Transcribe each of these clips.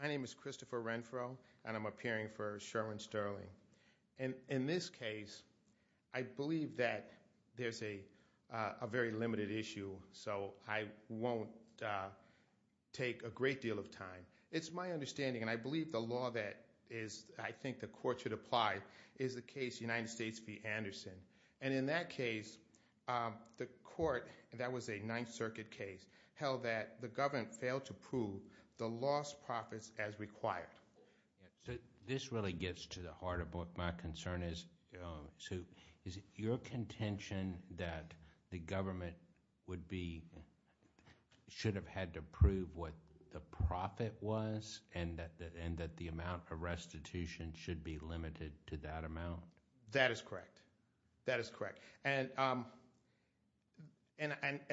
My name is Christopher Renfro and I'm appearing for Sherwin Sterling. In this case, I believe that there's a very limited issue so I won't take a great deal of time. It's my understanding and I believe the law that I think the court should apply is the case United States v. Anderson and in that case the court, that was a Ninth Circuit case, held that the government failed to prove the lost profits as required. So this really gets to the heart of what my concern is. Is it your contention that the government should have had to prove what the profit was and that the amount of restitution should be limited to that amount? Christopher Renfro That is correct.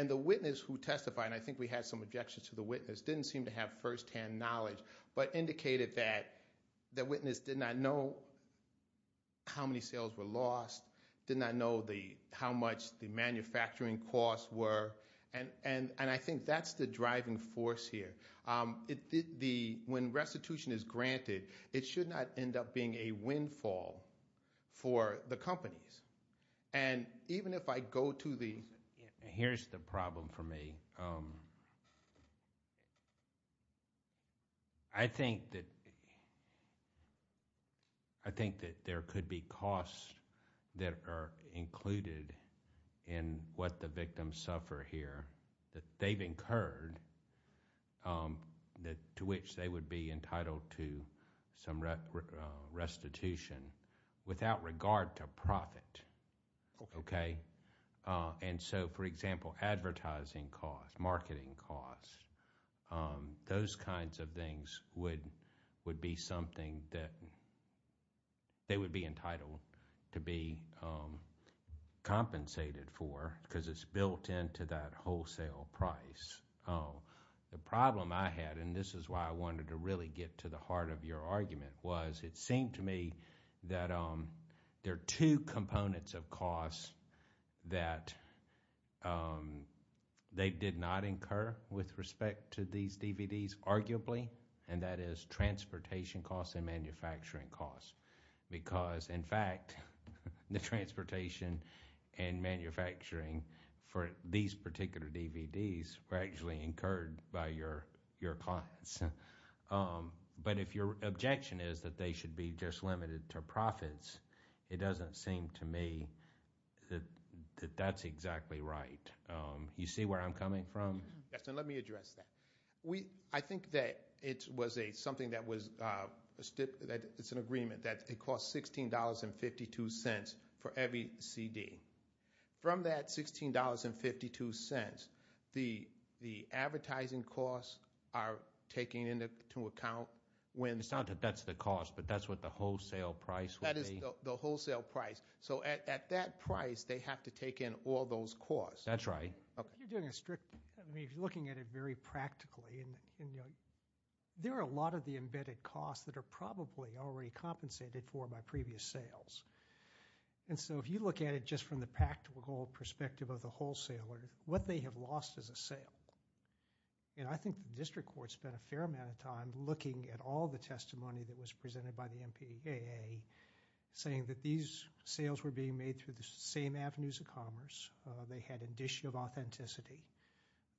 The witness who testified, and I think we had some objections to the witness, didn't seem to have first-hand knowledge but indicated that the witness did not know how many sales were lost, did not know how much the manufacturing costs were, and I think that's the driving force here. When restitution is granted, it should not end up being a windfall for the companies. And even if I go to the... Here's the problem for me. I think that there could be costs that are included in what the victims suffer here that they've incurred to which they would be entitled to some restitution without regard to profit. And so, for example, advertising costs, marketing costs, those kinds of things would be something that they would be entitled to be compensated for because it's built into that wholesale price. The problem I had, and this is why I wanted to really get to the heart of your argument, was it seemed to me that there are two components of costs that they did not incur with respect to these DVDs, arguably, and that is transportation costs and manufacturing costs because in fact, the transportation and manufacturing for these particular DVDs were actually incurred by your clients. But if your objection is that they should be just limited to profits, it doesn't seem to me that that's exactly right. You see where I'm coming from? Yes, and let me address that. I think that it was something that was an agreement that it cost $16.52 for every CD. From that $16.52, the advertising costs are taken into account when- It's not that that's the cost, but that's what the wholesale price would be. That is the wholesale price. So at that price, they have to take in all those costs. That's right. You're doing a strict... I mean, if you're looking at it very practically, there are a lot of the embedded costs that are probably already compensated for by previous sales. And so if you look at it just from the practical perspective of the wholesaler, what they have lost is a sale. I think the district court spent a fair amount of time looking at all the testimony that was presented by the MPAA saying that these sales were being made through the same avenues of commerce. They had an issue of authenticity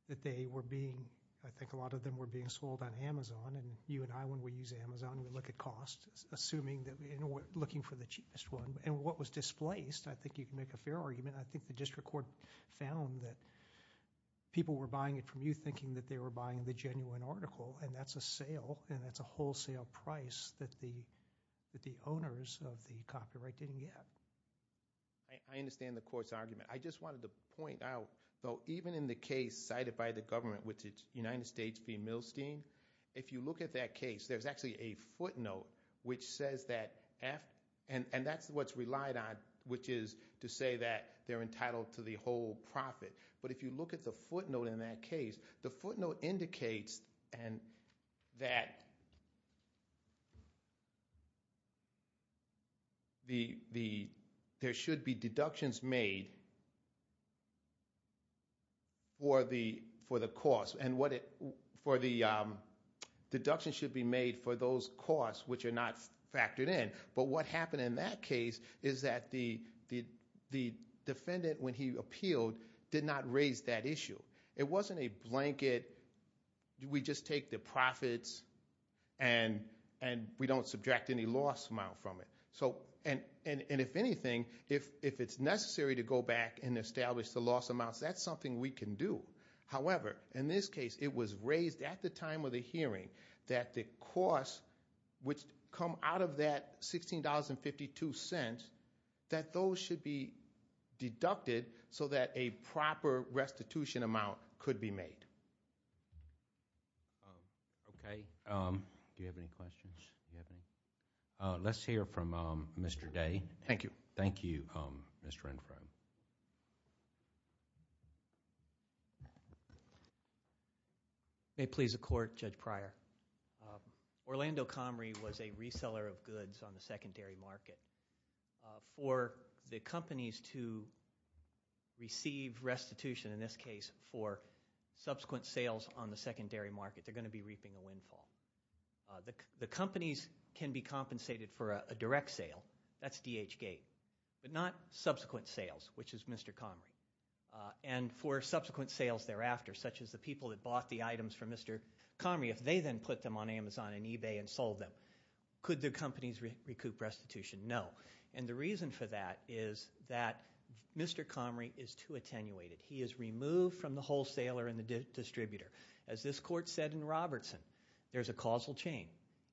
that they were being... I think a lot of them were being sold on Amazon. And you and I, when we use Amazon, we look at cost, assuming that we're looking for the cheapest one. And what was displaced, I think you can make a fair argument. I think the district court found that people were buying it from you thinking that they were buying the genuine article, and that's a sale, and that's a wholesale price that the owners of the copyright didn't get. I understand the court's argument. I just wanted to point out, though, even in the case cited by the government, which is United States v. Milstein, if you look at that case, there's actually a footnote which says that... and that's what's relied on, which is to say that they're entitled to the whole profit. But if you look at the footnote in that case, the footnote indicates that there should be a deduction for the cost, and the deduction should be made for those costs which are not factored in. But what happened in that case is that the defendant, when he appealed, did not raise that issue. It wasn't a blanket, we just take the profits and we don't subtract any loss amount from it. And if anything, if it's necessary to go back and establish the loss amounts, that's something we can do. However, in this case, it was raised at the time of the hearing that the cost, which come out of that $16.52, that those should be deducted so that a proper restitution amount could be made. Okay. Do you have any questions? Let's hear from Mr. Day. Thank you. Thank you, Mr. Renfrow. May it please the court, Judge Pryor. Orlando Comrie was a reseller of goods on the secondary market. For the companies to receive restitution, in this case for subsequent sales on the secondary market, they're going to be reaping a windfall. The companies can be compensated for a direct sale, that's DHGATE, but not subsequent sales, which is Mr. Comrie. And for subsequent sales thereafter, such as the people that bought the items from Mr. Comrie, if they then put them on Amazon and eBay and sold them, could the companies recoup restitution? No. And the reason for that is that Mr. Comrie is too attenuated. He is removed from the wholesaler and the distributor. As this court said in Robertson, there's a causal chain.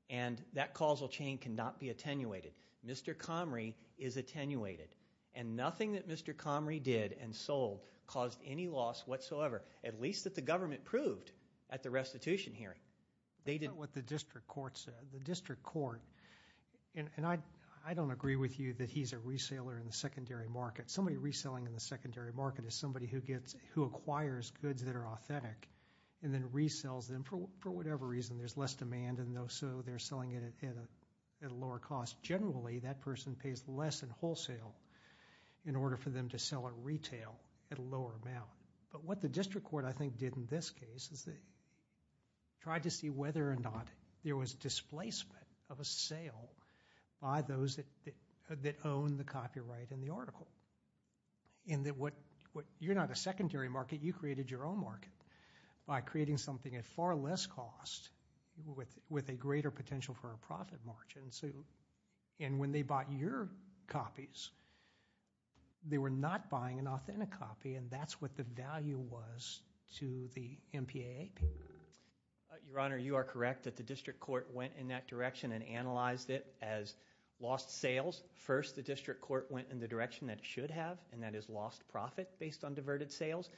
And that causal chain cannot be attenuated. Mr. Comrie is attenuated. And nothing that Mr. Comrie did and sold caused any loss whatsoever, at least that the government proved at the restitution hearing. They didn't. That's not what the district court said. The district court, and I don't agree with you that he's a reseller in the secondary market. Somebody reselling in the secondary market is somebody who acquires goods that are authentic and then resells them for whatever reason. There's less demand and so they're selling it at a lower cost. Generally, that person pays less in wholesale in order for them to sell at retail at a lower amount. But what the district court, I think, did in this case is they tried to see whether or not there was displacement of a sale by those that own the copyright in the article. In that you're not a secondary market, you created your own market by creating something at far less cost with a greater potential for a profit margin. And when they bought your copies, they were not buying an authentic copy and that's what the value was to the MPAAP. Your Honor, you are correct that the district court went in that direction and analyzed it as lost sales. First, the district court went in the direction that it should have and that is lost profit based on diverted sales,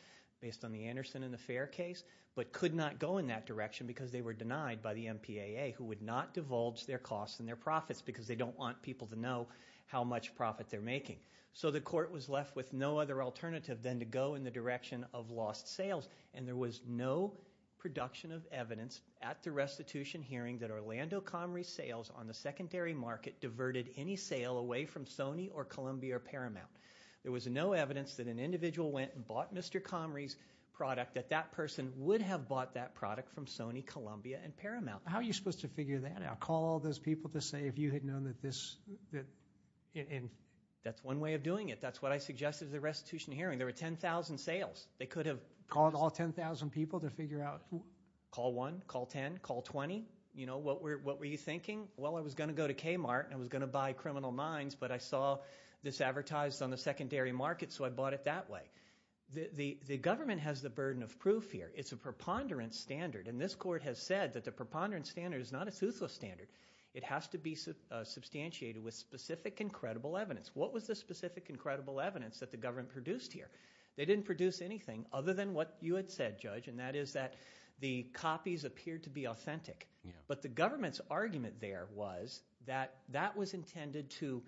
based on the Anderson and the Fair case, but could not go in that direction because they were denied by the MPAA who would not divulge their costs and their profits because they don't want people to know how much profit they're making. So the court was left with no other alternative than to go in the direction of lost sales and there was no production of evidence at the restitution hearing that Orlando Comrie's sales on the secondary market diverted any sale away from Sony or Columbia or Paramount. There was no evidence that an individual went and bought Mr. Comrie's product that that person would have bought that product from Sony, Columbia, and Paramount. How are you supposed to figure that out? Call all those people to say if you had known that this, that, and... That's one way of doing it. That's what I suggested at the restitution hearing. There were 10,000 sales. They could have... Called all 10,000 people to figure out who... Call one, call 10, call 20. You know, what were you thinking? Well, I was going to go to Kmart and I was going to buy Criminal Minds, but I saw this advertised on the secondary market so I bought it that way. The government has the burden of proof here. It's a preponderance standard and this court has said that the preponderance standard is not a toothless standard. It has to be substantiated with specific and credible evidence. What was the specific and credible evidence that the government produced here? They didn't produce anything other than what you had said, Judge, and that is that the copies appeared to be authentic. But the government's argument there was that that was intended to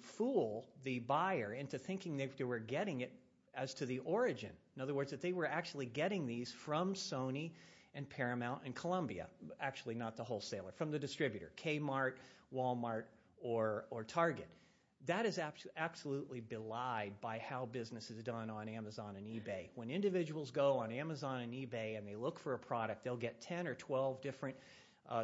fool the buyer into thinking they were getting it as to the origin. In other words, that they were actually getting these from Sony and Paramount and Columbia. Actually not the wholesaler. From the distributor. Kmart, Walmart, or Target. That is absolutely belied by how business is done on Amazon and eBay. When individuals go on Amazon and eBay and they look for a product, they'll get 10 or 12 different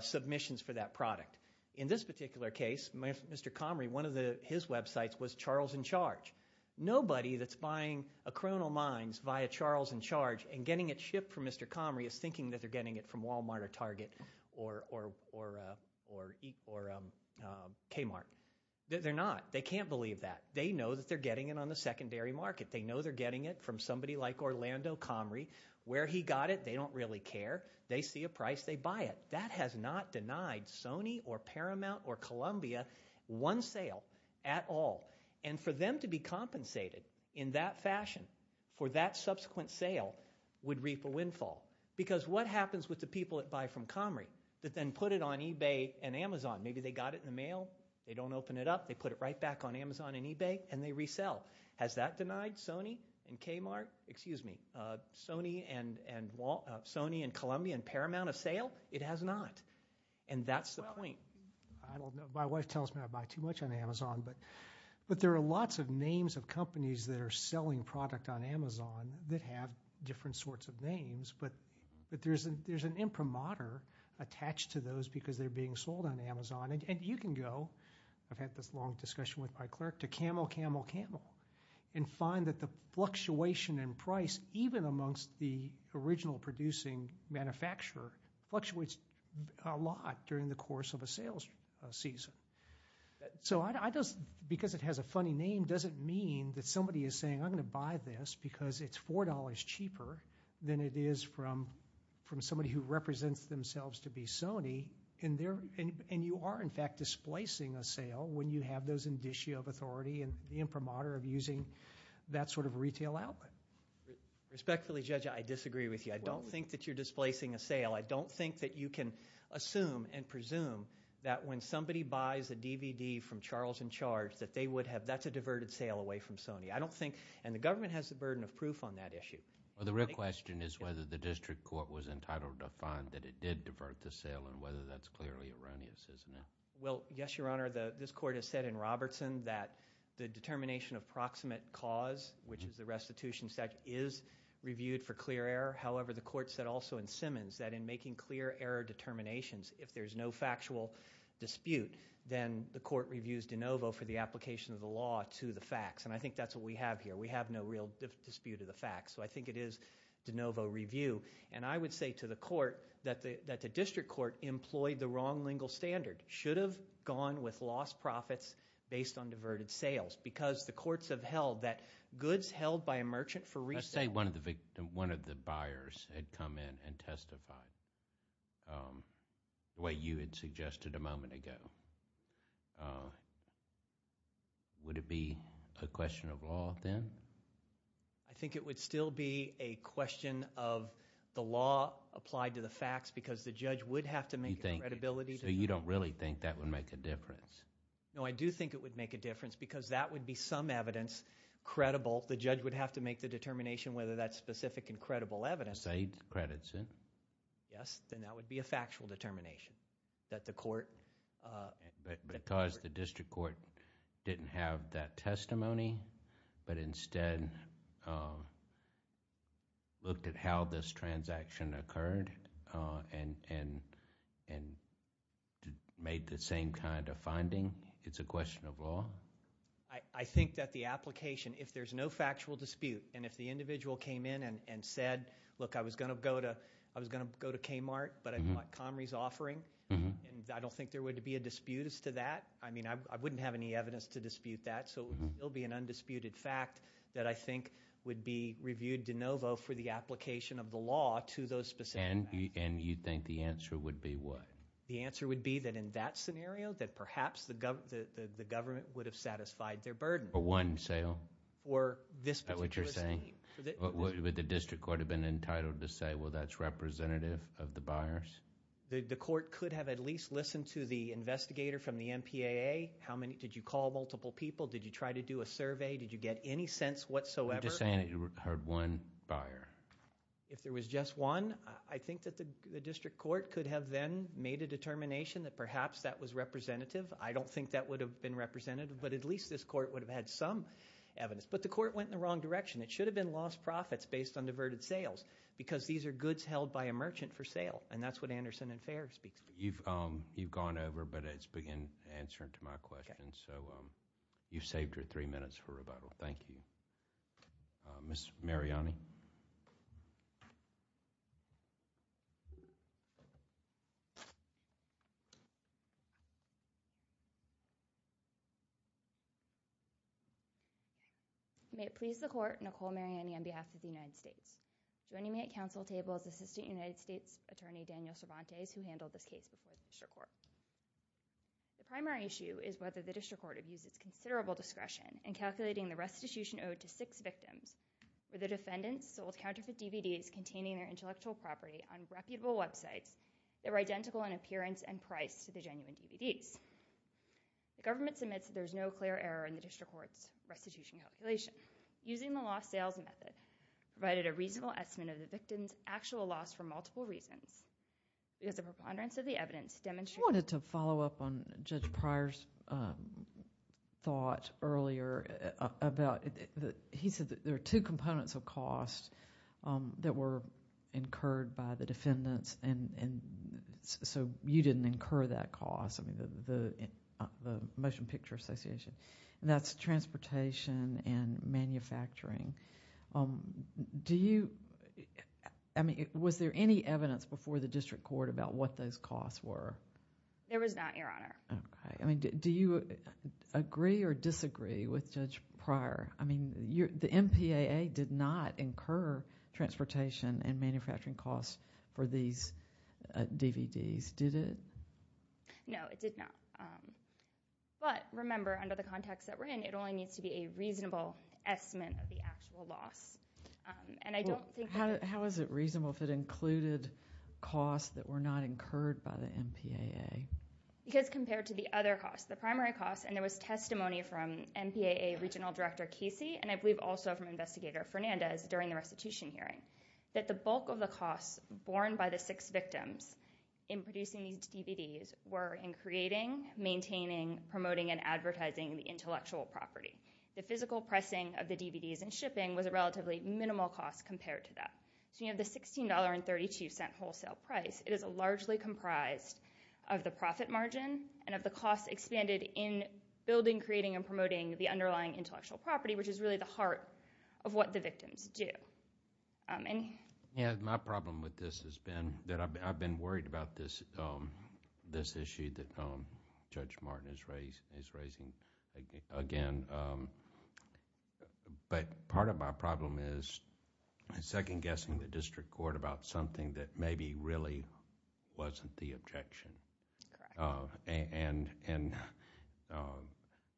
submissions for that product. In this particular case, Mr. Comrie, one of his websites was Charles and Charge. Nobody that's buying a Criminal Minds via Charles and Charge and getting it shipped from Mr. Comrie is thinking that they're getting it from Walmart or Target or Kmart. They're not. They can't believe that. They know that they're getting it on the secondary market. They know they're getting it from somebody like Orlando Comrie. Where he got it, they don't really care. They see a price, they buy it. That has not denied Sony or Paramount or Columbia one sale at all. And for them to be compensated in that fashion for that subsequent sale would reap a windfall. Because what happens with the people that buy from Comrie that then put it on eBay and Amazon? Maybe they got it in the mail. They don't open it up. They put it right back on Amazon and eBay, and they resell. Has that denied Sony and Kmart, excuse me, Sony and Columbia and Paramount a sale? It has not. And that's the point. Well, I don't know. My wife tells me I buy too much on Amazon. But there are lots of names of companies that are selling product on Amazon that have different sorts of names, but there's an imprimatur attached to those because they're being sold on Amazon. And you can go, I've had this long discussion with my clerk, to Camel, Camel, Camel and find that the fluctuation in price, even amongst the original producing manufacturer, fluctuates a lot during the course of a sales season. So because it has a funny name doesn't mean that somebody is saying, I'm going to buy this because it's $4 cheaper than it is from somebody who represents themselves to be Sony. And you are, in fact, displacing a sale when you have those indicia of authority and the imprimatur of using that sort of retail outlet. Respectfully, Judge, I disagree with you. I don't think that you're displacing a sale. I don't think that you can assume and presume that when somebody buys a DVD from Charles and Charge that they would have, that's a diverted sale away from Sony. I don't think, and the government has the burden of proof on that issue. The real question is whether the district court was entitled to find that it did divert the sale and whether that's clearly erroneous, isn't it? Well, yes, Your Honor. This court has said in Robertson that the determination of proximate cause, which is the restitution statute, is reviewed for clear error. However, the court said also in Simmons that in making clear error determinations, if there's no factual dispute, then the court reviews de novo for the application of the law to the facts. And I think that's what we have here. We have no real dispute of the facts. So I think it is de novo review. And I would say to the court that the district court employed the wrong legal standard, should have gone with lost profits based on diverted sales, because the courts have held that goods held by a merchant for resale... Let's say one of the buyers had come in and testified the way you had suggested a moment ago. Would it be a question of law then? I think it would still be a question of the law applied to the facts, because the judge would have to make a credibility... So you don't really think that would make a difference? No, I do think it would make a difference, because that would be some evidence credible. The judge would have to make the determination whether that's specific and credible evidence. Say it's credits, then? Yes, then that would be a factual determination that the court... Because the district court didn't have that testimony, but instead looked at how this transaction occurred and made the same kind of finding, it's a question of law? I think that the application, if there's no factual dispute, and if the individual came in and said, look, I was going to go to Kmart, but I bought Comrie's offering, and I don't think there would be a dispute as to that. I mean, I wouldn't have any evidence to dispute that, so it would still be an undisputed fact that I think would be reviewed de novo for the application of the law to those specific facts. And you think the answer would be what? The answer would be that in that scenario, that perhaps the government would have satisfied For one sale? For this particular sale. Is that what you're saying? Would the district court have been entitled to say, well, that's representative of the buyers? The court could have at least listened to the investigator from the MPAA, did you call multiple people, did you try to do a survey, did you get any sense whatsoever? You're just saying that you heard one buyer? If there was just one, I think that the district court could have then made a determination that perhaps that was representative. I don't think that would have been representative, but at least this court would have had some evidence. But the court went in the wrong direction. It should have been lost profits based on diverted sales, because these are goods held by a merchant for sale, and that's what Anderson and Fair speak to. You've gone over, but it's been answered to my question, so you've saved her three minutes for rebuttal. Thank you. Ms. Mariani? May it please the court, Nicole Mariani on behalf of the United States, joining me at the podium, is a former U.S. attorney, Daniel Cervantes, who handled this case before the district court. The primary issue is whether the district court has used its considerable discretion in calculating the restitution owed to six victims, where the defendants sold counterfeit DVDs containing their intellectual property on reputable websites that were identical in appearance and price to the genuine DVDs. The government submits that there's no clear error in the district court's restitution calculation. Using the lost sales method provided a reasonable estimate of the victim's actual loss from multiple reasons. Does the preponderance of the evidence demonstrate... I wanted to follow up on Judge Pryor's thought earlier about... he said that there are two components of cost that were incurred by the defendants, and so you didn't incur that cost, the Motion Picture Association, and that's transportation and manufacturing. Do you... I mean, was there any evidence before the district court about what those costs were? There was not, Your Honor. Okay. I mean, do you agree or disagree with Judge Pryor? I mean, the MPAA did not incur transportation and manufacturing costs for these DVDs, did it? No, it did not, but remember, under the context that we're in, it only needs to be a reasonable estimate of the actual loss. And I don't think... How is it reasonable if it included costs that were not incurred by the MPAA? Because compared to the other costs, the primary costs, and there was testimony from MPAA Regional Director Casey, and I believe also from Investigator Fernandez during the restitution hearing, that the bulk of the costs borne by the six victims in producing these DVDs were in creating, maintaining, promoting, and advertising the intellectual property. The physical pressing of the DVDs and shipping was a relatively minimal cost compared to that. So you have the $16.32 wholesale price. It is largely comprised of the profit margin and of the costs expanded in building, creating, and promoting the underlying intellectual property, which is really the heart of what the victims do. And... Yeah, my problem with this has been that I've been worried about this issue that Judge Martin is raising again. But part of my problem is second-guessing the district court about something that maybe really wasn't the objection. And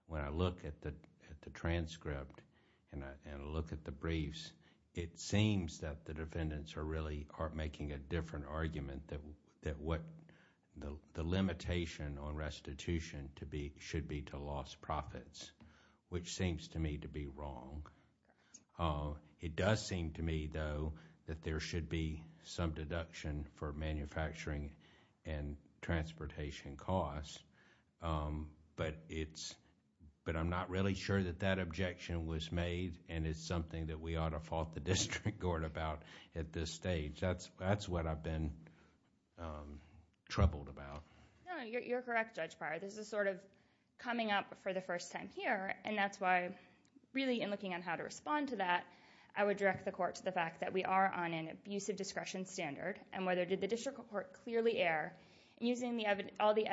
when I look at the transcript and I look at the briefs, it seems that the defendants are really making a different argument that what the limitation on restitution should be to lost profits, which seems to me to be wrong. It does seem to me, though, that there should be some deduction for manufacturing and transportation costs, but I'm not really sure that that objection was made and it's something that we ought to fault the district court about at this stage. That's what I've been troubled about. No, you're correct, Judge Pryor. This is sort of coming up for the first time here, and that's why really in looking on how to respond to that, I would direct the court to the fact that we are on an abusive discretion standard, and whether did the district court clearly err in using all the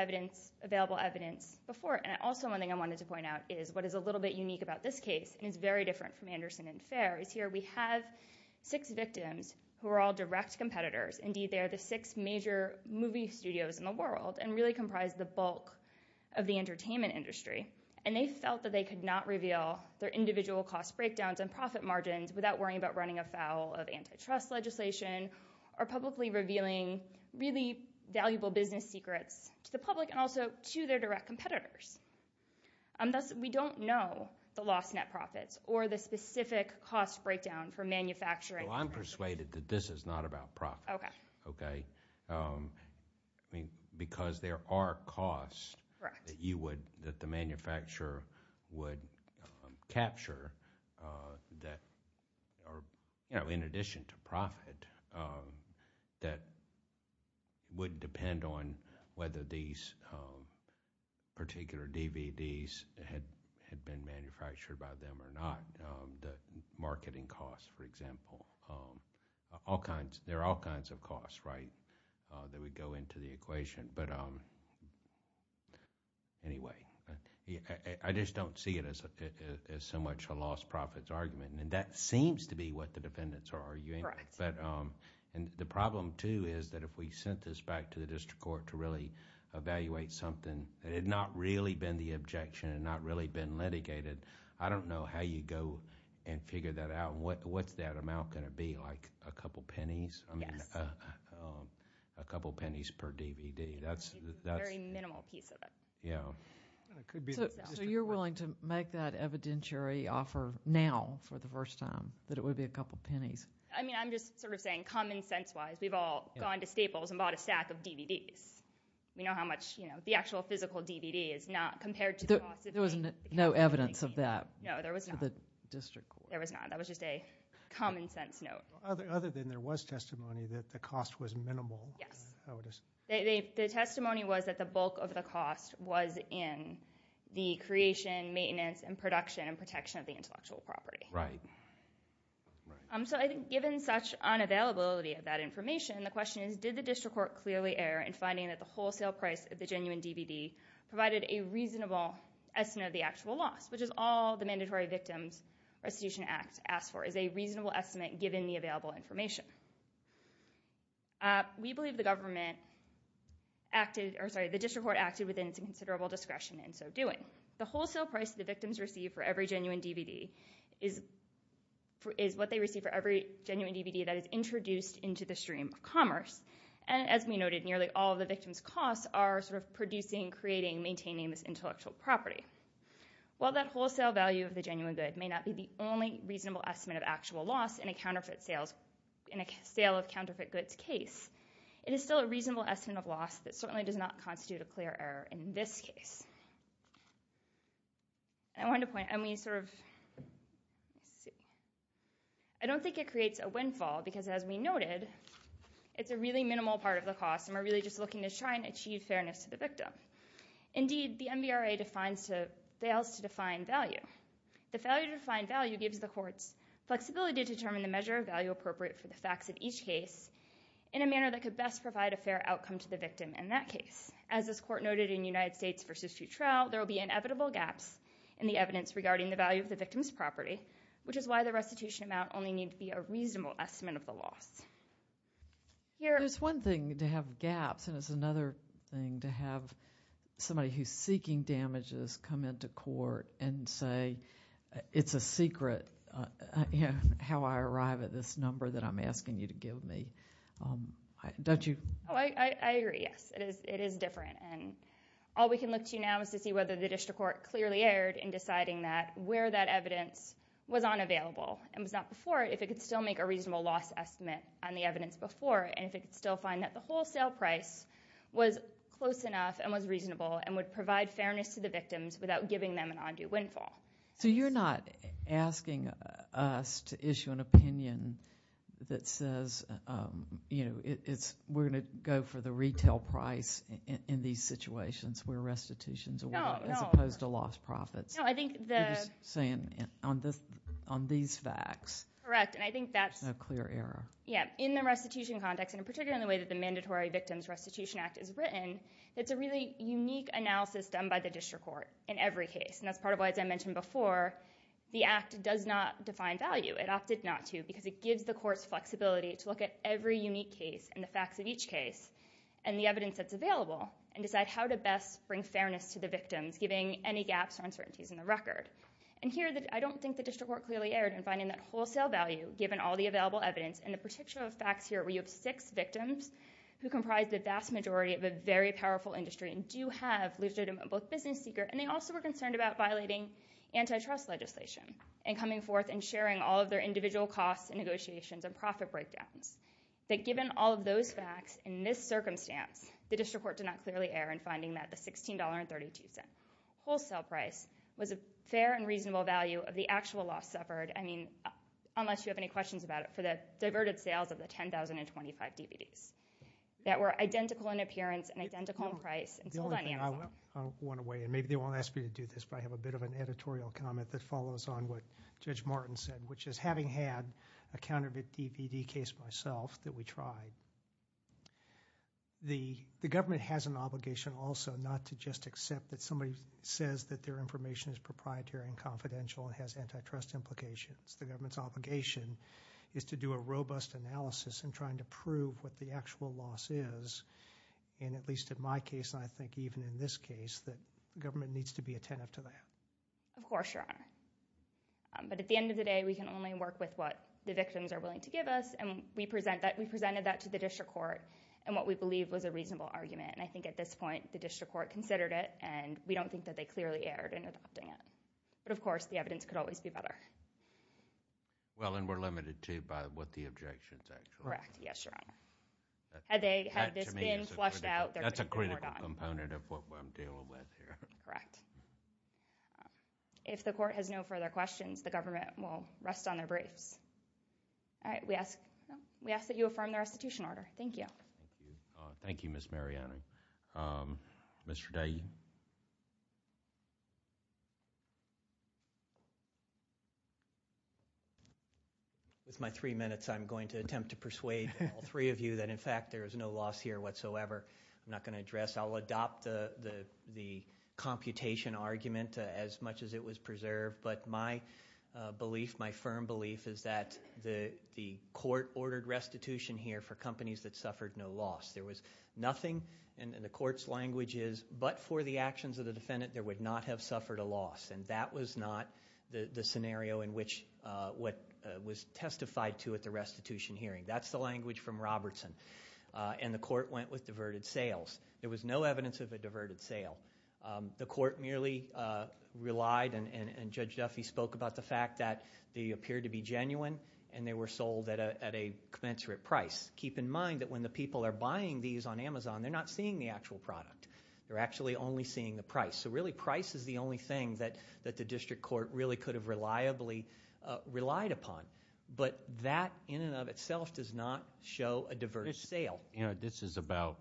available evidence before. And also, one thing I wanted to point out is what is a little bit unique about this We have six victims who are all direct competitors, indeed they are the six major movie studios in the world and really comprise the bulk of the entertainment industry, and they felt that they could not reveal their individual cost breakdowns and profit margins without worrying about running afoul of antitrust legislation or publicly revealing really valuable business secrets to the public and also to their direct competitors. Thus, we don't know the lost net profits or the specific cost breakdown for manufacturing. Well, I'm persuaded that this is not about profit, because there are costs that you would, that the manufacturer would capture that are, you know, in addition to profit, that would particular DVDs had been manufactured by them or not, the marketing costs, for example. All kinds, there are all kinds of costs, right, that would go into the equation. But anyway, I just don't see it as so much a lost profits argument, and that seems to be what the defendants are arguing. And the problem too is that if we sent this back to the district court to really evaluate something that had not really been the objection and not really been litigated, I don't know how you'd go and figure that out, and what's that amount going to be, like a couple pennies? Yes. I mean, a couple pennies per DVD, that's... A very minimal piece of it. Yeah. It could be... So you're willing to make that evidentiary offer now for the first time, that it would be a couple pennies? I mean, I'm just sort of saying, common sense-wise, we've all gone to Staples and bought a stack of DVDs. We know how much, you know, the actual physical DVD is not compared to the cost of a... There was no evidence of that for the district court. No, there was not. There was not. That was just a common sense note. Well, other than there was testimony that the cost was minimal, how it is... Yes. The testimony was that the bulk of the cost was in the creation, maintenance, and production and protection of the intellectual property. Right. So I think given such unavailability of that information, the question is, did the district court clearly err in finding that the wholesale price of the genuine DVD provided a reasonable estimate of the actual loss, which is all the Mandatory Victims Restitution Act asks for, is a reasonable estimate, given the available information. We believe the government acted, or sorry, the district court acted within its inconsiderable discretion in so doing. The wholesale price the victims receive for every genuine DVD is what they receive for every genuine DVD that is introduced into the stream of commerce, and as we noted, nearly all of the victims' costs are sort of producing, creating, maintaining this intellectual property. While that wholesale value of the genuine good may not be the only reasonable estimate of actual loss in a counterfeit sales, in a sale of counterfeit goods case, it is still a reasonable estimate of loss that certainly does not constitute a clear error in this case. I wanted to point out, and we sort of, let's see, I don't think it creates a windfall, because as we noted, it's a really minimal part of the cost, and we're really just looking to try and achieve fairness to the victim. Indeed, the MVRA fails to define value. The failure to define value gives the courts flexibility to determine the measure of value appropriate for the facts of each case in a manner that could best provide a fair outcome to the victim in that case. As this court noted in United States v. Futrell, there will be inevitable gaps in the evidence regarding the value of the victim's property, which is why the restitution amount only need to be a reasonable estimate of the loss. Here— There's one thing to have gaps, and it's another thing to have somebody who's seeking damages come into court and say, it's a secret how I arrive at this number that I'm asking you to give me. Don't you— Oh, I agree. Yes. It is different, and all we can look to now is to see whether the district court clearly erred in deciding that where that evidence was unavailable and was not before, if it could still make a reasonable loss estimate on the evidence before, and if it could still find that the wholesale price was close enough and was reasonable and would provide fairness to the victims without giving them an undue windfall. So you're not asking us to issue an opinion that says, you know, we're going to go for the retail price in these situations where restitutions are— No. No. As opposed to lost profits. No, I think the— You're just saying on these facts. Correct. And I think that's— A clear error. Yeah. In the restitution context, and in particular in the way that the Mandatory Victims Restitution Act is written, it's a really unique analysis done by the district court in every case, and that's part of why, as I mentioned before, the act does not define value. It opted not to because it gives the court's flexibility to look at every unique case and the facts of each case and the evidence that's available, and decide how to best bring fairness to the victims, giving any gaps or uncertainties in the record. And here, I don't think the district court clearly erred in finding that wholesale value, given all the available evidence, and the particular facts here where you have six victims who comprise the vast majority of a very powerful industry and do have legitimate—both business seeker, and they also were concerned about violating antitrust legislation and coming forth and sharing all of their individual costs and negotiations and profit breakdowns. That given all of those facts, in this circumstance, the district court did not clearly err in finding that the $16.32 wholesale price was a fair and reasonable value of the actual loss suffered—I mean, unless you have any questions about it—for the diverted sales of the 10,000 and 25 DVDs that were identical in appearance and identical in price and sold on Amazon. The only thing I want to weigh, and maybe they won't ask me to do this, but I have a bit of an editorial comment that follows on what Judge Martin said, which is, having had a counterfeit DVD case myself that we tried, the government has an obligation also not to just accept that somebody says that their information is proprietary and confidential and has antitrust implications. The government's obligation is to do a robust analysis in trying to prove what the actual loss is, and at least in my case, and I think even in this case, that the government needs Of course, Your Honor. But at the end of the day, we can only work with what the victims are willing to give us, and we presented that to the district court, and what we believe was a reasonable argument. I think at this point, the district court considered it, and we don't think that they clearly erred in adopting it. But of course, the evidence could always be better. Well, and we're limited, too, by what the objections actually are. Correct. Yes, Your Honor. Had they had this been flushed out, they're going to get more done. That's a critical component of what I'm dealing with here. Correct. If the court has no further questions, the government will rest on their briefs. All right. We ask that you affirm the restitution order. Thank you. Thank you. Thank you, Ms. Mariani. Mr. Day? With my three minutes, I'm going to attempt to persuade all three of you that, in fact, there is no loss here whatsoever. I'm not going to address. I'll adopt the computation argument as much as it was preserved. But my belief, my firm belief, is that the court ordered restitution here for companies that suffered no loss. There was nothing, and the court's language is, but for the actions of the defendant, there would not have suffered a loss. And that was not the scenario in which what was testified to at the restitution hearing. That's the language from Robertson. And the court went with diverted sales. There was no evidence of a diverted sale. The court merely relied, and Judge Duffy spoke about the fact that they appeared to be genuine, and they were sold at a commensurate price. Keep in mind that when the people are buying these on Amazon, they're not seeing the actual product. They're actually only seeing the price. So really, price is the only thing that the district court really could have reliably relied upon. But that, in and of itself, does not show a diverted sale. This is about,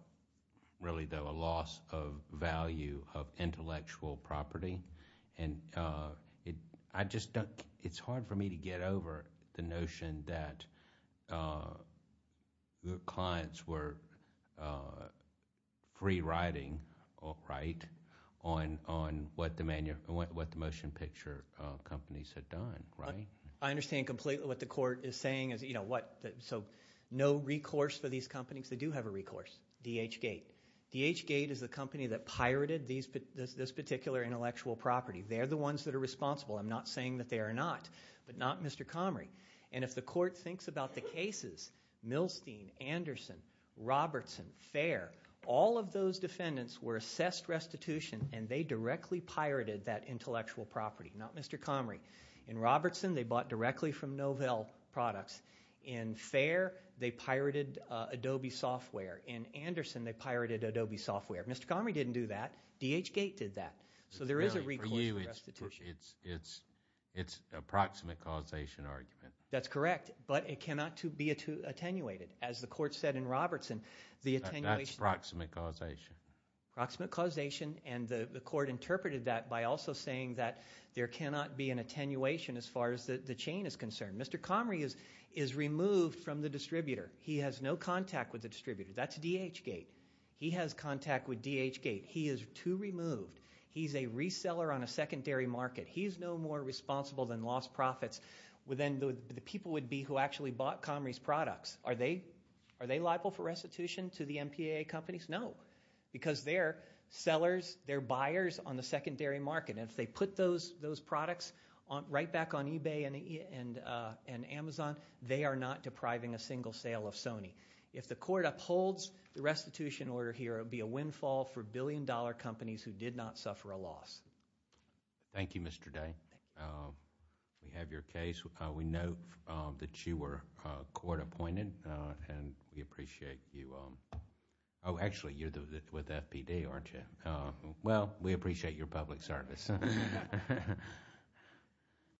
really though, a loss of value of intellectual property. And I just don't, it's hard for me to get over the notion that your clients were free-riding, right, on what the motion picture companies had done, right? I understand completely what the court is saying. So no recourse for these companies. They do have a recourse, D.H. Gate. D.H. Gate is the company that pirated this particular intellectual property. They're the ones that are responsible. I'm not saying that they are not, but not Mr. Comrie. And if the court thinks about the cases, Milstein, Anderson, Robertson, Fair, all of those defendants were assessed restitution, and they directly pirated that intellectual property, not Mr. Comrie. In Robertson, they bought directly from Novell Products. In Fair, they pirated Adobe software. In Anderson, they pirated Adobe software. Mr. Comrie didn't do that. D.H. Gate did that. So there is a recourse for restitution. It's a proximate causation argument. That's correct, but it cannot be attenuated. As the court said in Robertson, the attenuation... That's proximate causation. Proximate causation, and the court interpreted that by also saying that there cannot be an attenuation as far as the chain is concerned. Mr. Comrie is removed from the distributor. He has no contact with the distributor. That's D.H. Gate. He has contact with D.H. Gate. He is too removed. He's a reseller on a secondary market. He's no more responsible than lost profits than the people would be who actually bought Comrie's products. Are they liable for restitution to the MPAA companies? No, because they're sellers, they're buyers on the secondary market. If they put those products right back on eBay and Amazon, they are not depriving a single sale of Sony. If the court upholds the restitution order here, it would be a windfall for billion-dollar companies who did not suffer a loss. Thank you, Mr. Day. We have your case. We know that you were court-appointed, and we appreciate you... Oh, actually, you're with FPD, aren't you? Well, we appreciate your public service.